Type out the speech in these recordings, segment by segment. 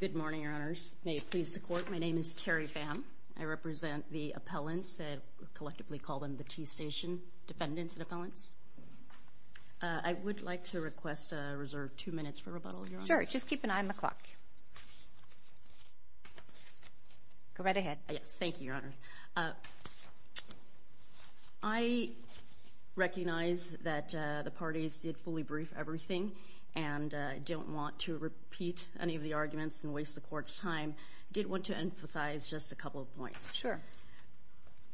Good morning, Your Honours. May it please the Court, my name is Terry Pham. I represent the appellants. I collectively call them the T Station Defendants and Appellants. I would like to request a reserve two minutes for rebuttal, Your Honour. Sure, just keep an eye on the clock. Go right ahead. Thank you, Your Honour. I recognize that the parties did fully brief everything and I don't want to repeat any of the arguments and waste the Court's time. I did want to emphasize just a couple of points. Sure.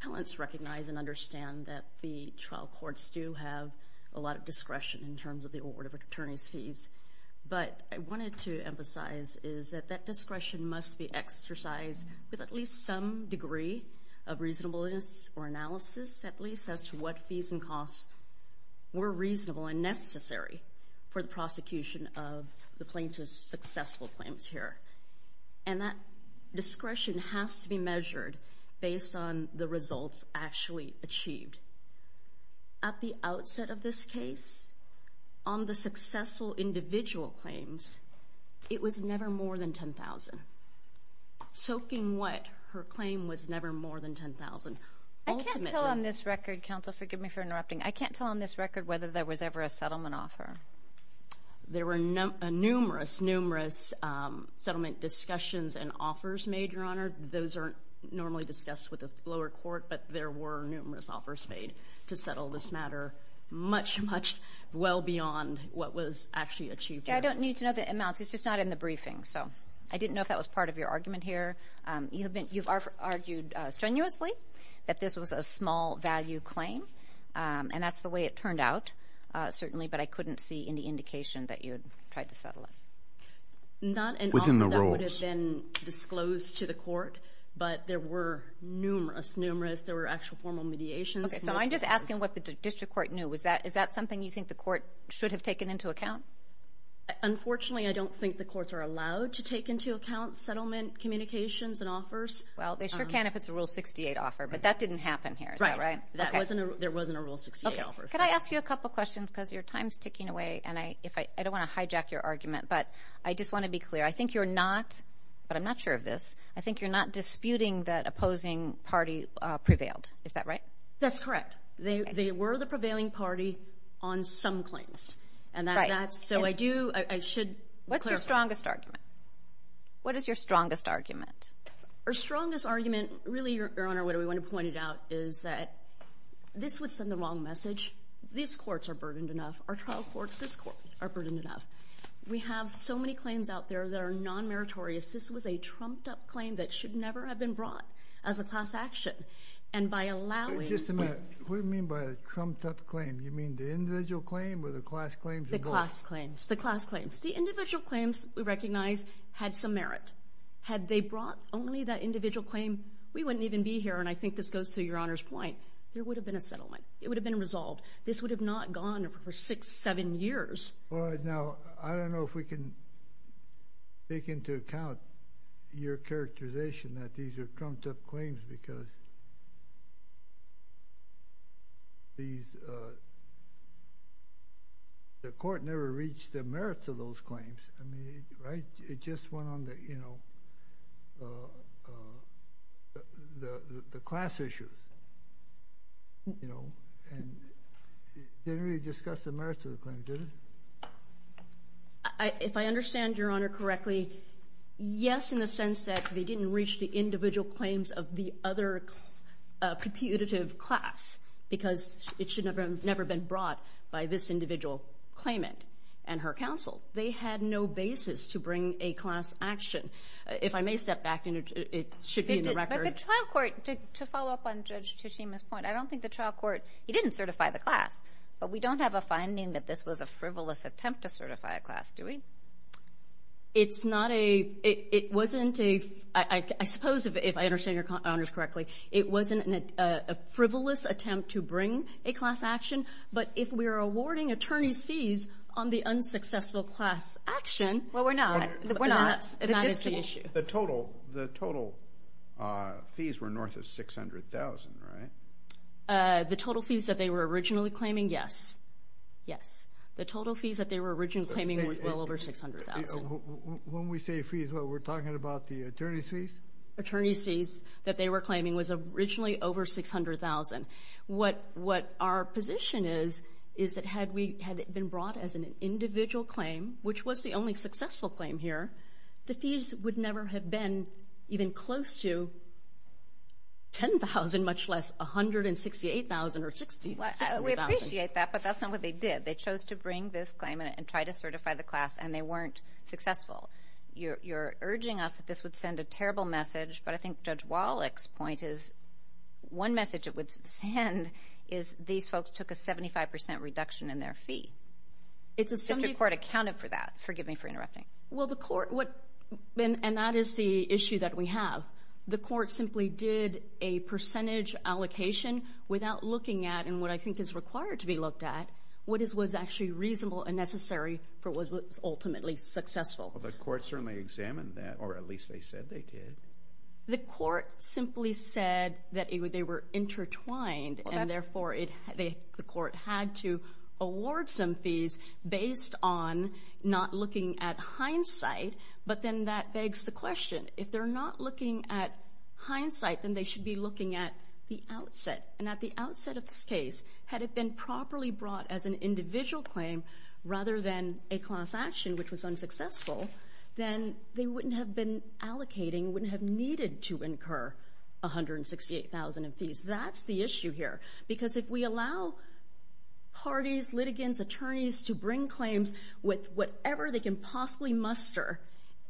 Appellants recognize and understand that the trial courts do have a lot of discretion in terms of the award of attorney's fees, but I wanted to emphasize is that that discretion must be exercised with at least some degree of reasonableness or analysis, at least as to what fees and costs were reasonable and necessary for the prosecution of the plaintiff's successful claims here. And that discretion has to be measured based on the results actually achieved. At the outset of this case, on the successful individual claims, it was never more than $10,000. Soaking wet, her claim was never more than $10,000. I can't tell on this record, counsel, forgive me for interrupting, I can't tell on this record whether there was ever a settlement offer. There were numerous, numerous settlement discussions and offers made, Your Honour. Those are normally discussed with the lower court, but there were numerous offers made to settle this matter much, much well beyond what was actually achieved here. I don't need to know the amounts. It's just not in the briefing, so I didn't know if that was part of your argument here. You've argued strenuously that this was a small-value claim, and that's the way it turned out, certainly, but I couldn't see any indication that you had tried to settle it. Within the rules. None of that would have been disclosed to the court, but there were numerous, numerous, there were actual formal mediations. Okay, so I'm just asking what the district court knew. Is that something you think the court should have taken into account? Unfortunately, I don't think the courts are allowed to take into account settlement communications and offers. Well, they sure can if it's a Rule 68 offer, but that didn't happen here, is that right? Right. There wasn't a Rule 68 offer. Could I ask you a couple questions because your time's ticking away, and I don't want to hijack your argument, but I just want to be clear. I think you're not, but I'm not sure of this, I think you're not disputing that opposing party prevailed. Is that right? That's correct. They were the prevailing party on some claims, and that's, so I do, I should clarify. What's your strongest argument? What is your strongest argument? Our strongest argument, really, Your Honor, what we want to point out is that this would send the wrong message. These courts are burdened enough. Our trial courts, this court, are burdened enough. We have so many claims out there that are non-meritorious. This was a trumped-up claim that should never have been brought as a class action, and by allowing— Wait just a minute. What do you mean by a trumped-up claim? You mean the individual claim or the class claims? The class claims. The class claims. The individual claims, we recognize, had some merit. Had they brought only that individual claim, we wouldn't even be here, and I think this goes to Your Honor's point. There would have been a settlement. It would have been resolved. This would have not gone for six, seven years. All right. Now, I don't know if we can take into account your characterization that these are trumped-up claims because these, the court never reached the merits of those claims. I mean, right? It just went on the, you know, the class issue, you know, and didn't really discuss the merits of the claim, did it? If I understand Your Honor correctly, yes, in the sense that they didn't reach the individual claims of the other because it should have never been brought by this individual claimant and her counsel. They had no basis to bring a class action. If I may step back, it should be in the record. But the trial court, to follow up on Judge Tsushima's point, I don't think the trial court, he didn't certify the class, but we don't have a finding that this was a frivolous attempt to certify a class, do we? It's not a, it wasn't a, I suppose if I understand Your Honor's correctly, it wasn't a frivolous attempt to bring a class action. But if we are awarding attorney's fees on the unsuccessful class action. Well, we're not. We're not. And that is the issue. The total, the total fees were north of $600,000, right? The total fees that they were originally claiming, yes. The total fees that they were originally claiming were well over $600,000. When we say fees, what we're talking about the attorney's fees? Attorney's fees that they were claiming was originally over $600,000. What our position is, is that had we, had it been brought as an individual claim, which was the only successful claim here, the fees would never have been even close to $10,000, much less $168,000 or $60,000. We appreciate that, but that's not what they did. They chose to bring this claim and try to certify the class, and they weren't successful. You're urging us that this would send a terrible message, but I think Judge Wallach's point is one message it would send is these folks took a 75% reduction in their fee. If the court accounted for that. Forgive me for interrupting. Well, the court, and that is the issue that we have. The court simply did a percentage allocation without looking at, and what I think is required to be looked at, what was actually reasonable and necessary for what was ultimately successful. Well, the court certainly examined that, or at least they said they did. The court simply said that they were intertwined, and therefore the court had to award some fees based on not looking at hindsight, but then that begs the question, if they're not looking at hindsight, then they should be looking at the outset, and at the outset of this case, had it been properly brought as an individual claim rather than a class action, which was unsuccessful, then they wouldn't have been allocating, wouldn't have needed to incur 168,000 in fees. That's the issue here, because if we allow parties, litigants, attorneys to bring claims with whatever they can possibly muster,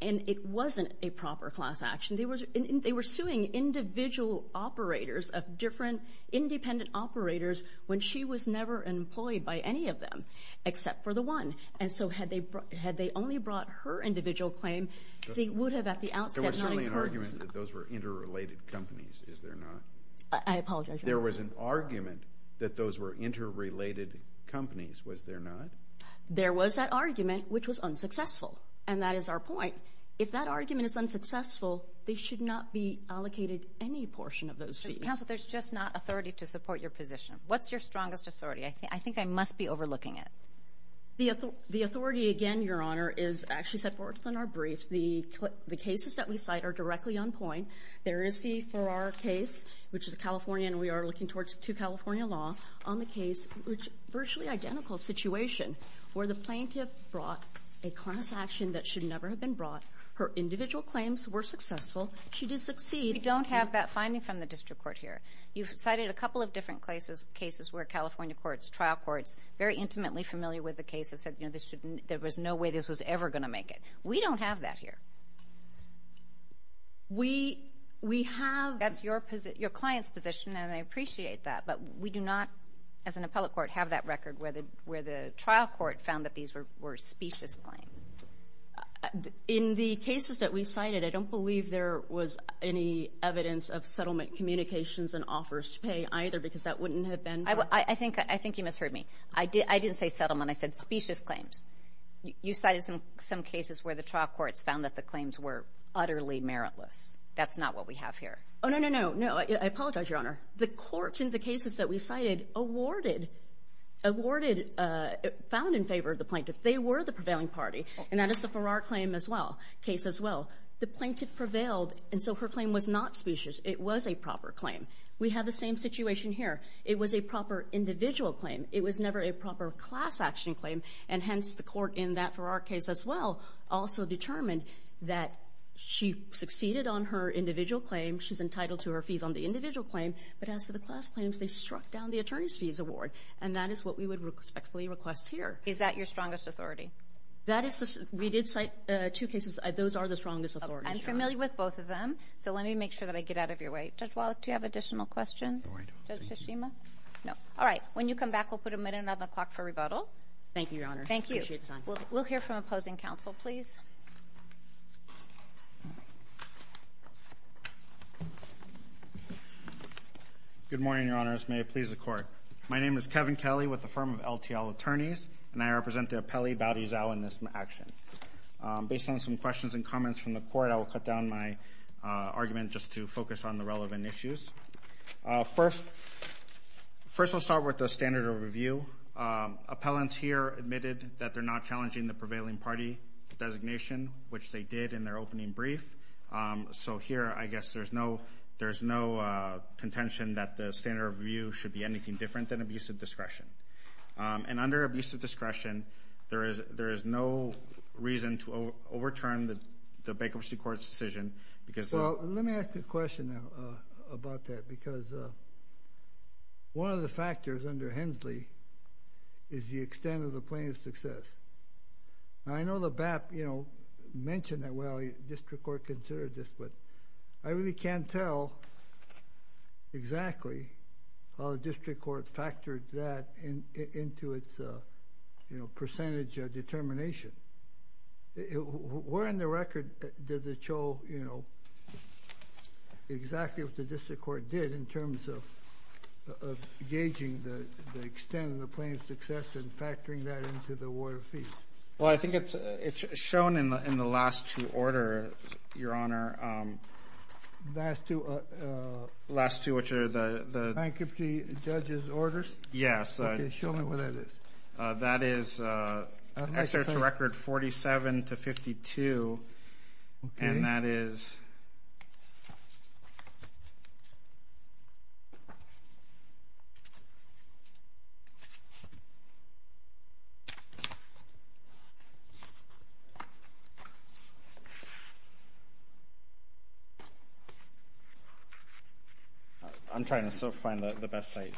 and it wasn't a proper class action, they were suing individual operators of different independent operators when she was never employed by any of them except for the one, and so had they only brought her individual claim, they would have at the outset not incurred. There was certainly an argument that those were interrelated companies, is there not? I apologize, Your Honor. There was an argument that those were interrelated companies, was there not? There was that argument, which was unsuccessful, and that is our point. If that argument is unsuccessful, they should not be allocated any portion of those fees. Counsel, there's just not authority to support your position. What's your strongest authority? I think I must be overlooking it. The authority, again, Your Honor, is actually set forth in our briefs. The cases that we cite are directly on point. There is the Farrar case, which is a California, and we are looking to California law, on the case, virtually identical situation, where the plaintiff brought a class action that should never have been brought. Her individual claims were successful. She did succeed. We don't have that finding from the district court here. You've cited a couple of different cases where California courts, trial courts, very intimately familiar with the case have said, you know, there was no way this was ever going to make it. We don't have that here. We have. That's your client's position, and I appreciate that, but we do not, as an appellate court, have that record where the trial court found that these were specious claims. In the cases that we cited, I don't believe there was any evidence of settlement communications and offers to pay either because that wouldn't have been. I think you misheard me. I didn't say settlement. I said specious claims. You cited some cases where the trial courts found that the claims were utterly meritless. Oh, no, no, no. I apologize, Your Honor. The courts in the cases that we cited awarded, found in favor of the plaintiff. They were the prevailing party, and that is the Farrar case as well. The plaintiff prevailed, and so her claim was not specious. It was a proper claim. We have the same situation here. It was a proper individual claim. It was never a proper class action claim, and hence the court in that Farrar case as well also determined that she succeeded on her individual claim. She's entitled to her fees on the individual claim, but as to the class claims, they struck down the attorney's fees award, and that is what we would respectfully request here. Is that your strongest authority? We did cite two cases. Those are the strongest authorities. I'm familiar with both of them, so let me make sure that I get out of your way. Judge Wallach, do you have additional questions? No, I don't. Judge Tashima? No. All right. When you come back, we'll put a minute on the clock for rebuttal. Thank you, Your Honor. Thank you. I appreciate the time. We'll hear from opposing counsel, please. Good morning, Your Honors. May it please the Court. My name is Kevin Kelly with the firm of LTL Attorneys, and I represent the appellee, Boudie Zhao, in this action. Based on some questions and comments from the Court, I will cut down my argument just to focus on the relevant issues. First, I'll start with the standard of review. Appellants here admitted that they're not challenging the prevailing party designation, which they did in their opening brief. So here, I guess there's no contention that the standard of review should be anything different than abuse of discretion. And under abuse of discretion, there is no reason to overturn the bankruptcy court's decision. Well, let me ask a question about that, because one of the factors under Hensley is the extent of the plaintiff's success. Now, I know the BAP, you know, mentioned that, well, the district court considered this, but I really can't tell exactly how the district court factored that into its, you know, percentage determination. Where in the record did it show, you know, exactly what the district court did in terms of gauging the extent of the Well, I think it's shown in the last two orders, Your Honor. Last two? Last two, which are the Bankruptcy judge's orders? Yes. Okay, show me what that is. That is excerpts record 47 to 52, and that is I'm trying to still find the best site.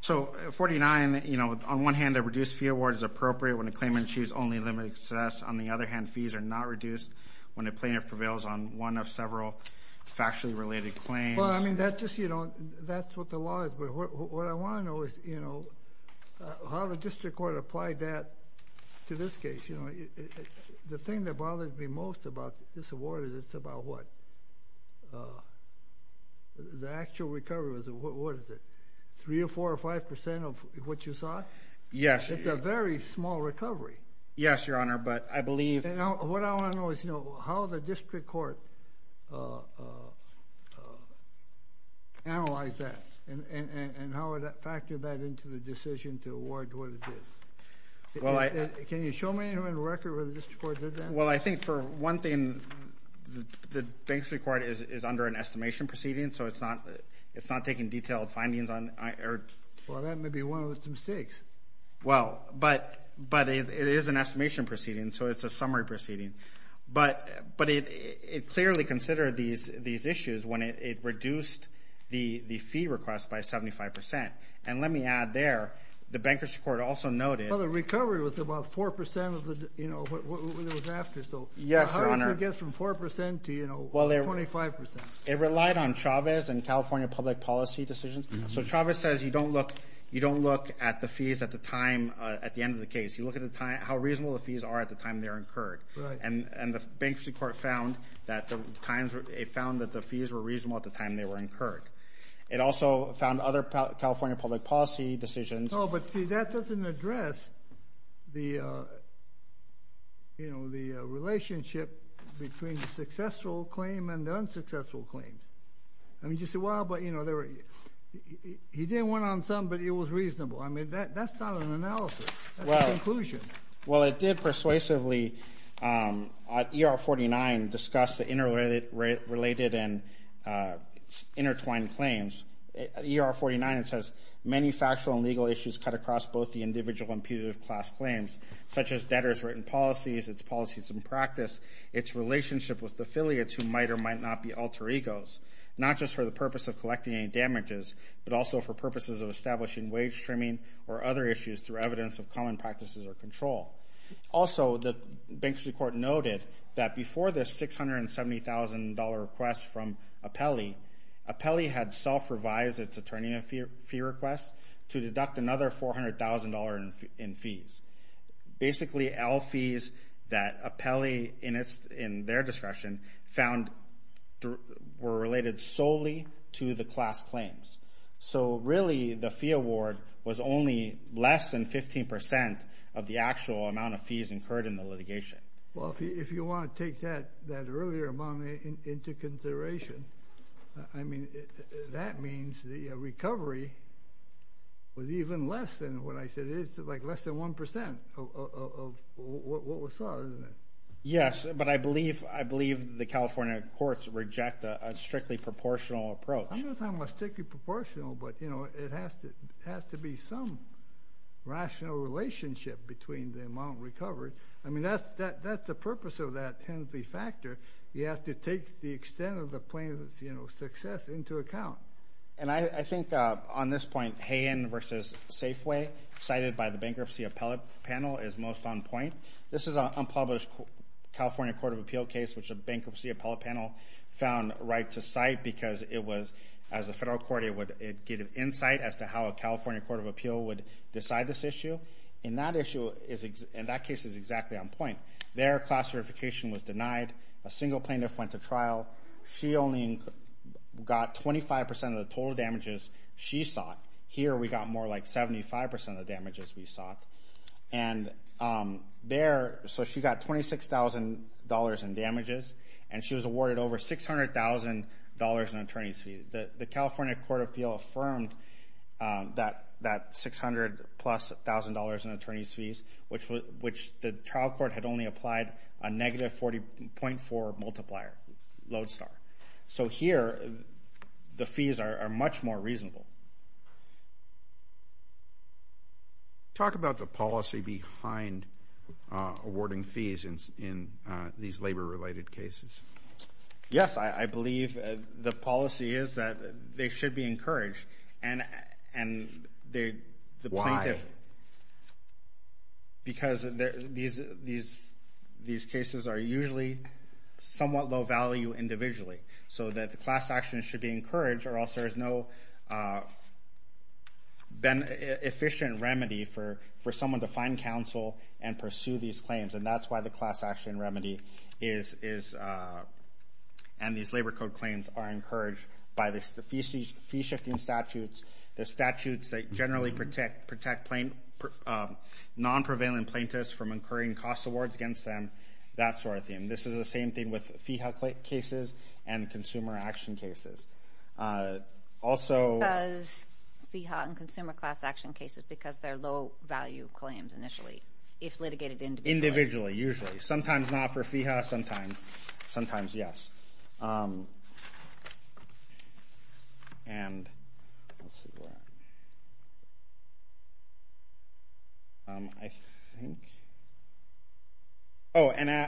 So 49, you know, on one hand, a reduced fee award is appropriate when a claimant issues only limited access. On the other hand, fees are not reduced when a plaintiff prevails on one of several factually related claims. Well, I mean, that's just, you know, that's what the law is, but what I want to know is, you know, how the district court applied that to this case. You know, the thing that bothers me most about this award is it's about what, the actual recovery, what is it, three or four or five percent of what you saw? Yes. Yes, Your Honor, but I believe What I want to know is, you know, how the district court analyzed that and how it factored that into the decision to award what it is. Can you show me the record where the district court did that? Well, I think, for one thing, the district court is under an estimation proceeding, so it's not taking detailed findings on Well, that may be one of its mistakes. Well, but it is an estimation proceeding, so it's a summary proceeding. But it clearly considered these issues when it reduced the fee request by 75 percent. And let me add there, the banker's court also noted Well, the recovery was about 4 percent of what it was after, so Yes, Your Honor. How did it get from 4 percent to, you know, 25 percent? It relied on Chavez and California public policy decisions. So Chavez says you don't look at the fees at the time, at the end of the case. You look at how reasonable the fees are at the time they're incurred. And the bankruptcy court found that the fees were reasonable at the time they were incurred. It also found other California public policy decisions Oh, but see, that doesn't address the, you know, the relationship between the successful claim and the unsuccessful claim. I mean, you say, well, but, you know, he did one on some, but it was reasonable. I mean, that's not an analysis. That's a conclusion. Well, it did persuasively, at ER 49, discuss the interrelated and intertwined claims. At ER 49, it says many factual and legal issues cut across both the individual and putative class claims, such as debtor's written policies, its policies and practice, its relationship with affiliates who might or might not be alter egos, not just for the purpose of collecting any damages, but also for purposes of establishing wage trimming or other issues through evidence of common practices or control. Also, the bankruptcy court noted that before the $670,000 request from Apelli, Apelli had self-revised its attorney fee request to deduct another $400,000 in fees. Basically, all fees that Apelli, in their discretion, found were related solely to the class claims. So really, the fee award was only less than 15% of the actual amount of fees incurred in the litigation. Well, if you want to take that earlier amount into consideration, I mean, that means the recovery was even less than what I said it is, like less than 1% of what was sought, isn't it? Yes, but I believe the California courts reject a strictly proportional approach. I'm not talking about strictly proportional, but it has to be some rational relationship between the amount recovered. I mean, that's the purpose of that entity factor. You have to take the extent of the plaintiff's success into account. And I think on this point, Hayen v. Safeway, cited by the bankruptcy appellate panel, is most on point. This is an unpublished California court of appeal case, which the bankruptcy appellate panel found right to cite because it was, as a federal court, it would get an insight as to how a California court of appeal would decide this issue. And that case is exactly on point. Their class certification was denied. A single plaintiff went to trial. She only got 25% of the total damages she sought. Here we got more like 75% of the damages we sought. And there, so she got $26,000 in damages, and she was awarded over $600,000 in attorney's fees. The California court of appeal affirmed that $600,000 plus in attorney's fees, which the trial court had only applied a negative 40.4 multiplier, Lodestar. So here the fees are much more reasonable. Talk about the policy behind awarding fees in these labor-related cases. Yes, I believe the policy is that they should be encouraged. Why? Because these cases are usually somewhat low-value individually, so that the class action should be encouraged, or else there is no efficient remedy for someone to find counsel and pursue these claims. And that's why the class action remedy and these labor code claims are encouraged by the fee-shifting statutes, the statutes that generally protect non-prevalent plaintiffs from incurring cost awards against them, that sort of thing. This is the same thing with FIHA cases and consumer action cases. Because FIHA and consumer class action cases, because they're low-value claims initially, if litigated individually. Individually, usually. Sometimes not for FIHA, sometimes. Sometimes, yes. Oh, and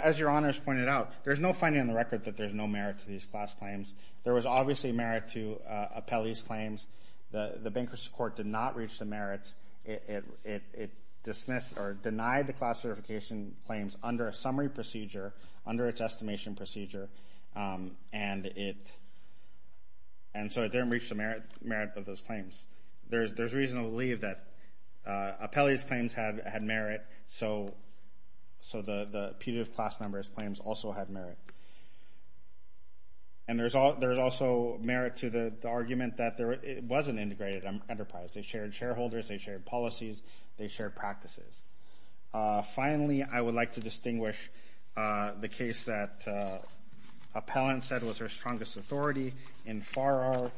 as Your Honors pointed out, there's no finding on the record that there's no merit to these class claims. There was obviously merit to appellees' claims. The bankruptcy court did not reach the merits. It dismissed or denied the class certification claims under a summary procedure, under its estimation procedure, and so it didn't reach the merit of those claims. There's reason to believe that appellees' claims had merit, so the punitive class members' claims also had merit. And there's also merit to the argument that it wasn't integrated enterprise. They shared shareholders. They shared policies. They shared practices. Finally, I would like to distinguish the case that appellant said was her strongest authority in FARO,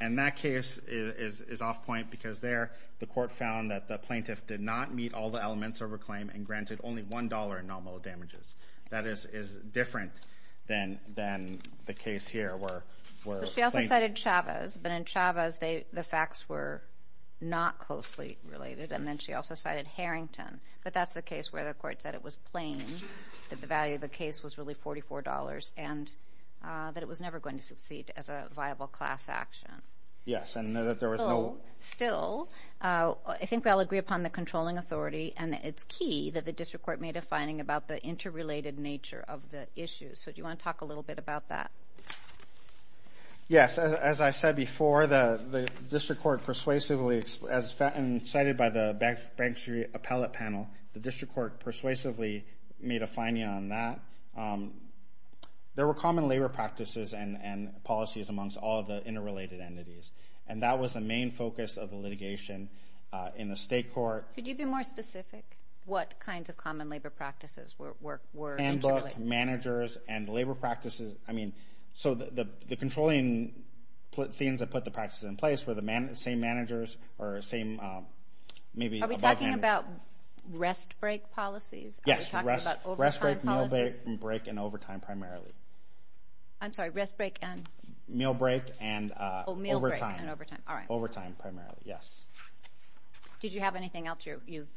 and that case is off-point because there the court found that the plaintiff did not meet all the elements of her claim and granted only $1 in nominal damages. That is different than the case here where plaintiff... not closely related, and then she also cited Harrington. But that's the case where the court said it was plain that the value of the case was really $44 and that it was never going to succeed as a viable class action. Yes, and that there was no... Still, I think we all agree upon the controlling authority and that it's key that the district court made a finding about the interrelated nature of the issue. So do you want to talk a little bit about that? Yes. As I said before, the district court persuasively, as cited by the Bank Street Appellate Panel, the district court persuasively made a finding on that. There were common labor practices and policies amongst all the interrelated entities, and that was the main focus of the litigation in the state court. Could you be more specific? What kinds of common labor practices were interrelated? Handbook, managers, and labor practices. I mean, so the controlling things that put the practices in place were the same managers or same maybe above-handed... Are we talking about rest-break policies? Yes, rest-break, meal-break, and overtime primarily. I'm sorry, rest-break and...? Meal-break and overtime. Oh, meal-break and overtime. All right. Overtime primarily, yes. Did you have anything else? You've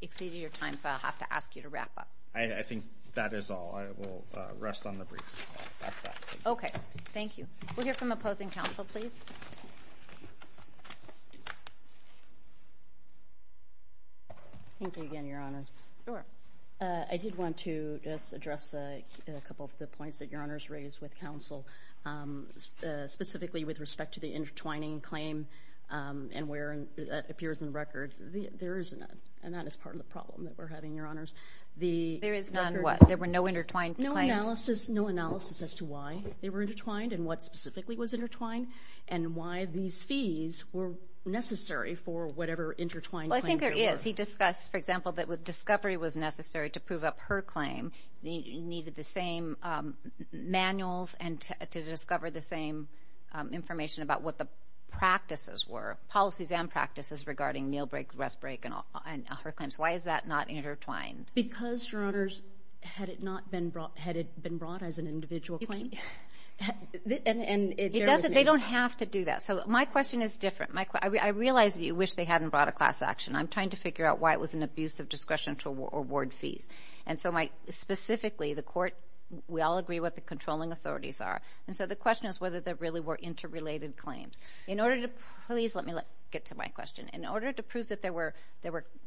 exceeded your time, so I'll have to ask you to wrap up. I think that is all. I will rest on the brief. Okay, thank you. We'll hear from opposing counsel, please. Thank you again, Your Honor. Sure. I did want to just address a couple of the points that Your Honor has raised with counsel, specifically with respect to the intertwining claim and where it appears in the record there is none, and that is part of the problem that we're having, Your Honors. There is none what? There were no intertwined claims. No analysis as to why they were intertwined and what specifically was intertwined and why these fees were necessary for whatever intertwined claims there were. Well, I think there is. He discussed, for example, that discovery was necessary to prove up her claim. You needed the same manuals and to discover the same information about what the practices were, policies and practices regarding meal-break, rest-break, and her claims. Why is that not intertwined? Because, Your Honors, had it not been brought as an individual claim... It doesn't. They don't have to do that. So my question is different. I realize that you wish they hadn't brought a class action. I'm trying to figure out why it was an abuse of discretion to award fees. And so, specifically, the Court, we all agree what the controlling authorities are, and so the question is whether there really were interrelated claims. In order to... Please let me get to my question. In order to prove that there were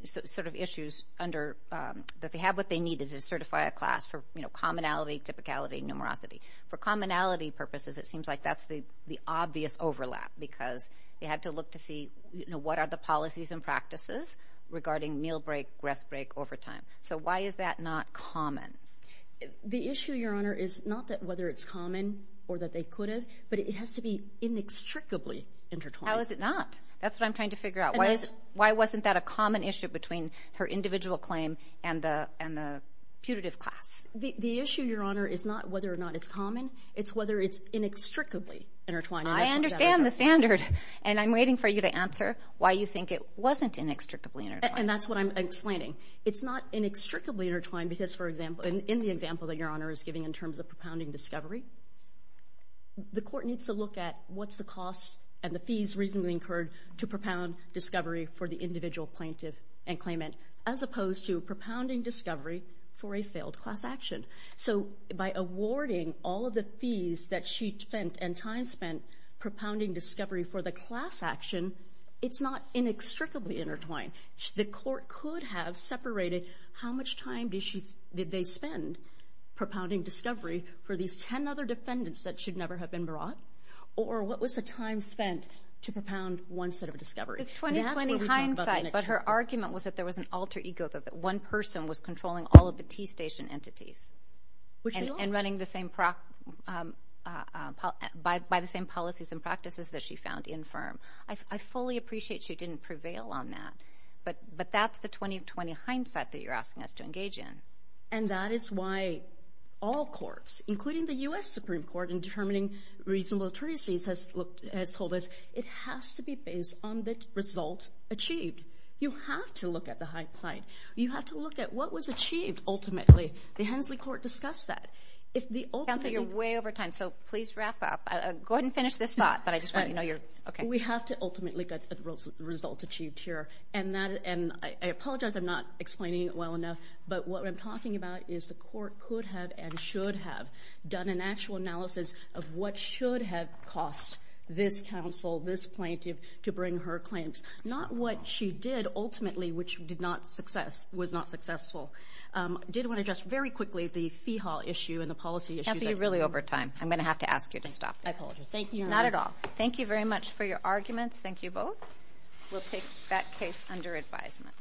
sort of issues that they had what they needed to certify a class for commonality, typicality, and numerosity. For commonality purposes, it seems like that's the obvious overlap because they had to look to see what are the policies and practices regarding meal-break, rest-break, overtime. So why is that not common? The issue, Your Honor, is not that whether it's common or that they could have, but it has to be inextricably intertwined. How is it not? That's what I'm trying to figure out. Why wasn't that a common issue between her individual claim and the putative class? The issue, Your Honor, is not whether or not it's common. It's whether it's inextricably intertwined. I understand the standard, and I'm waiting for you to answer why you think it wasn't inextricably intertwined. And that's what I'm explaining. It's not inextricably intertwined because, for example, in the example that Your Honor is giving in terms of propounding discovery, the Court needs to look at what's the cost and the fees reasonably incurred to propound discovery for the individual plaintiff and claimant, as opposed to propounding discovery for a failed class action. So by awarding all of the fees that she spent and time spent propounding discovery for the class action, it's not inextricably intertwined. The Court could have separated how much time did they spend propounding discovery for these 10 other defendants that should never have been brought, or what was the time spent to propound one set of discovery. It's 2020 hindsight, but her argument was that there was an alter ego, that one person was controlling all of the T Station entities and running the same... by the same policies and practices that she found infirm. I fully appreciate she didn't prevail on that, but that's the 2020 hindsight that you're asking us to engage in. And that is why all courts, including the U.S. Supreme Court, in determining reasonable attorney's fees, has told us it has to be based on the results achieved. You have to look at the hindsight. You have to look at what was achieved, ultimately. The Hensley Court discussed that. If the ultimate... Counsel, you're way over time, so please wrap up. Go ahead and finish this thought, but I just want you to know you're... Okay. We have to ultimately get the results achieved here. And I apologize I'm not explaining it well enough, but what I'm talking about is the Court could have and should have done an actual analysis of what should have cost this counsel, this plaintiff, to bring her claims. Not what she did, ultimately, which was not successful. I did want to address very quickly the fee haul issue and the policy issue. Counsel, you're really over time. I'm going to have to ask you to stop. I apologize. Thank you. Not at all. Thank you very much for your arguments. Thank you both. We'll take that case under advisement.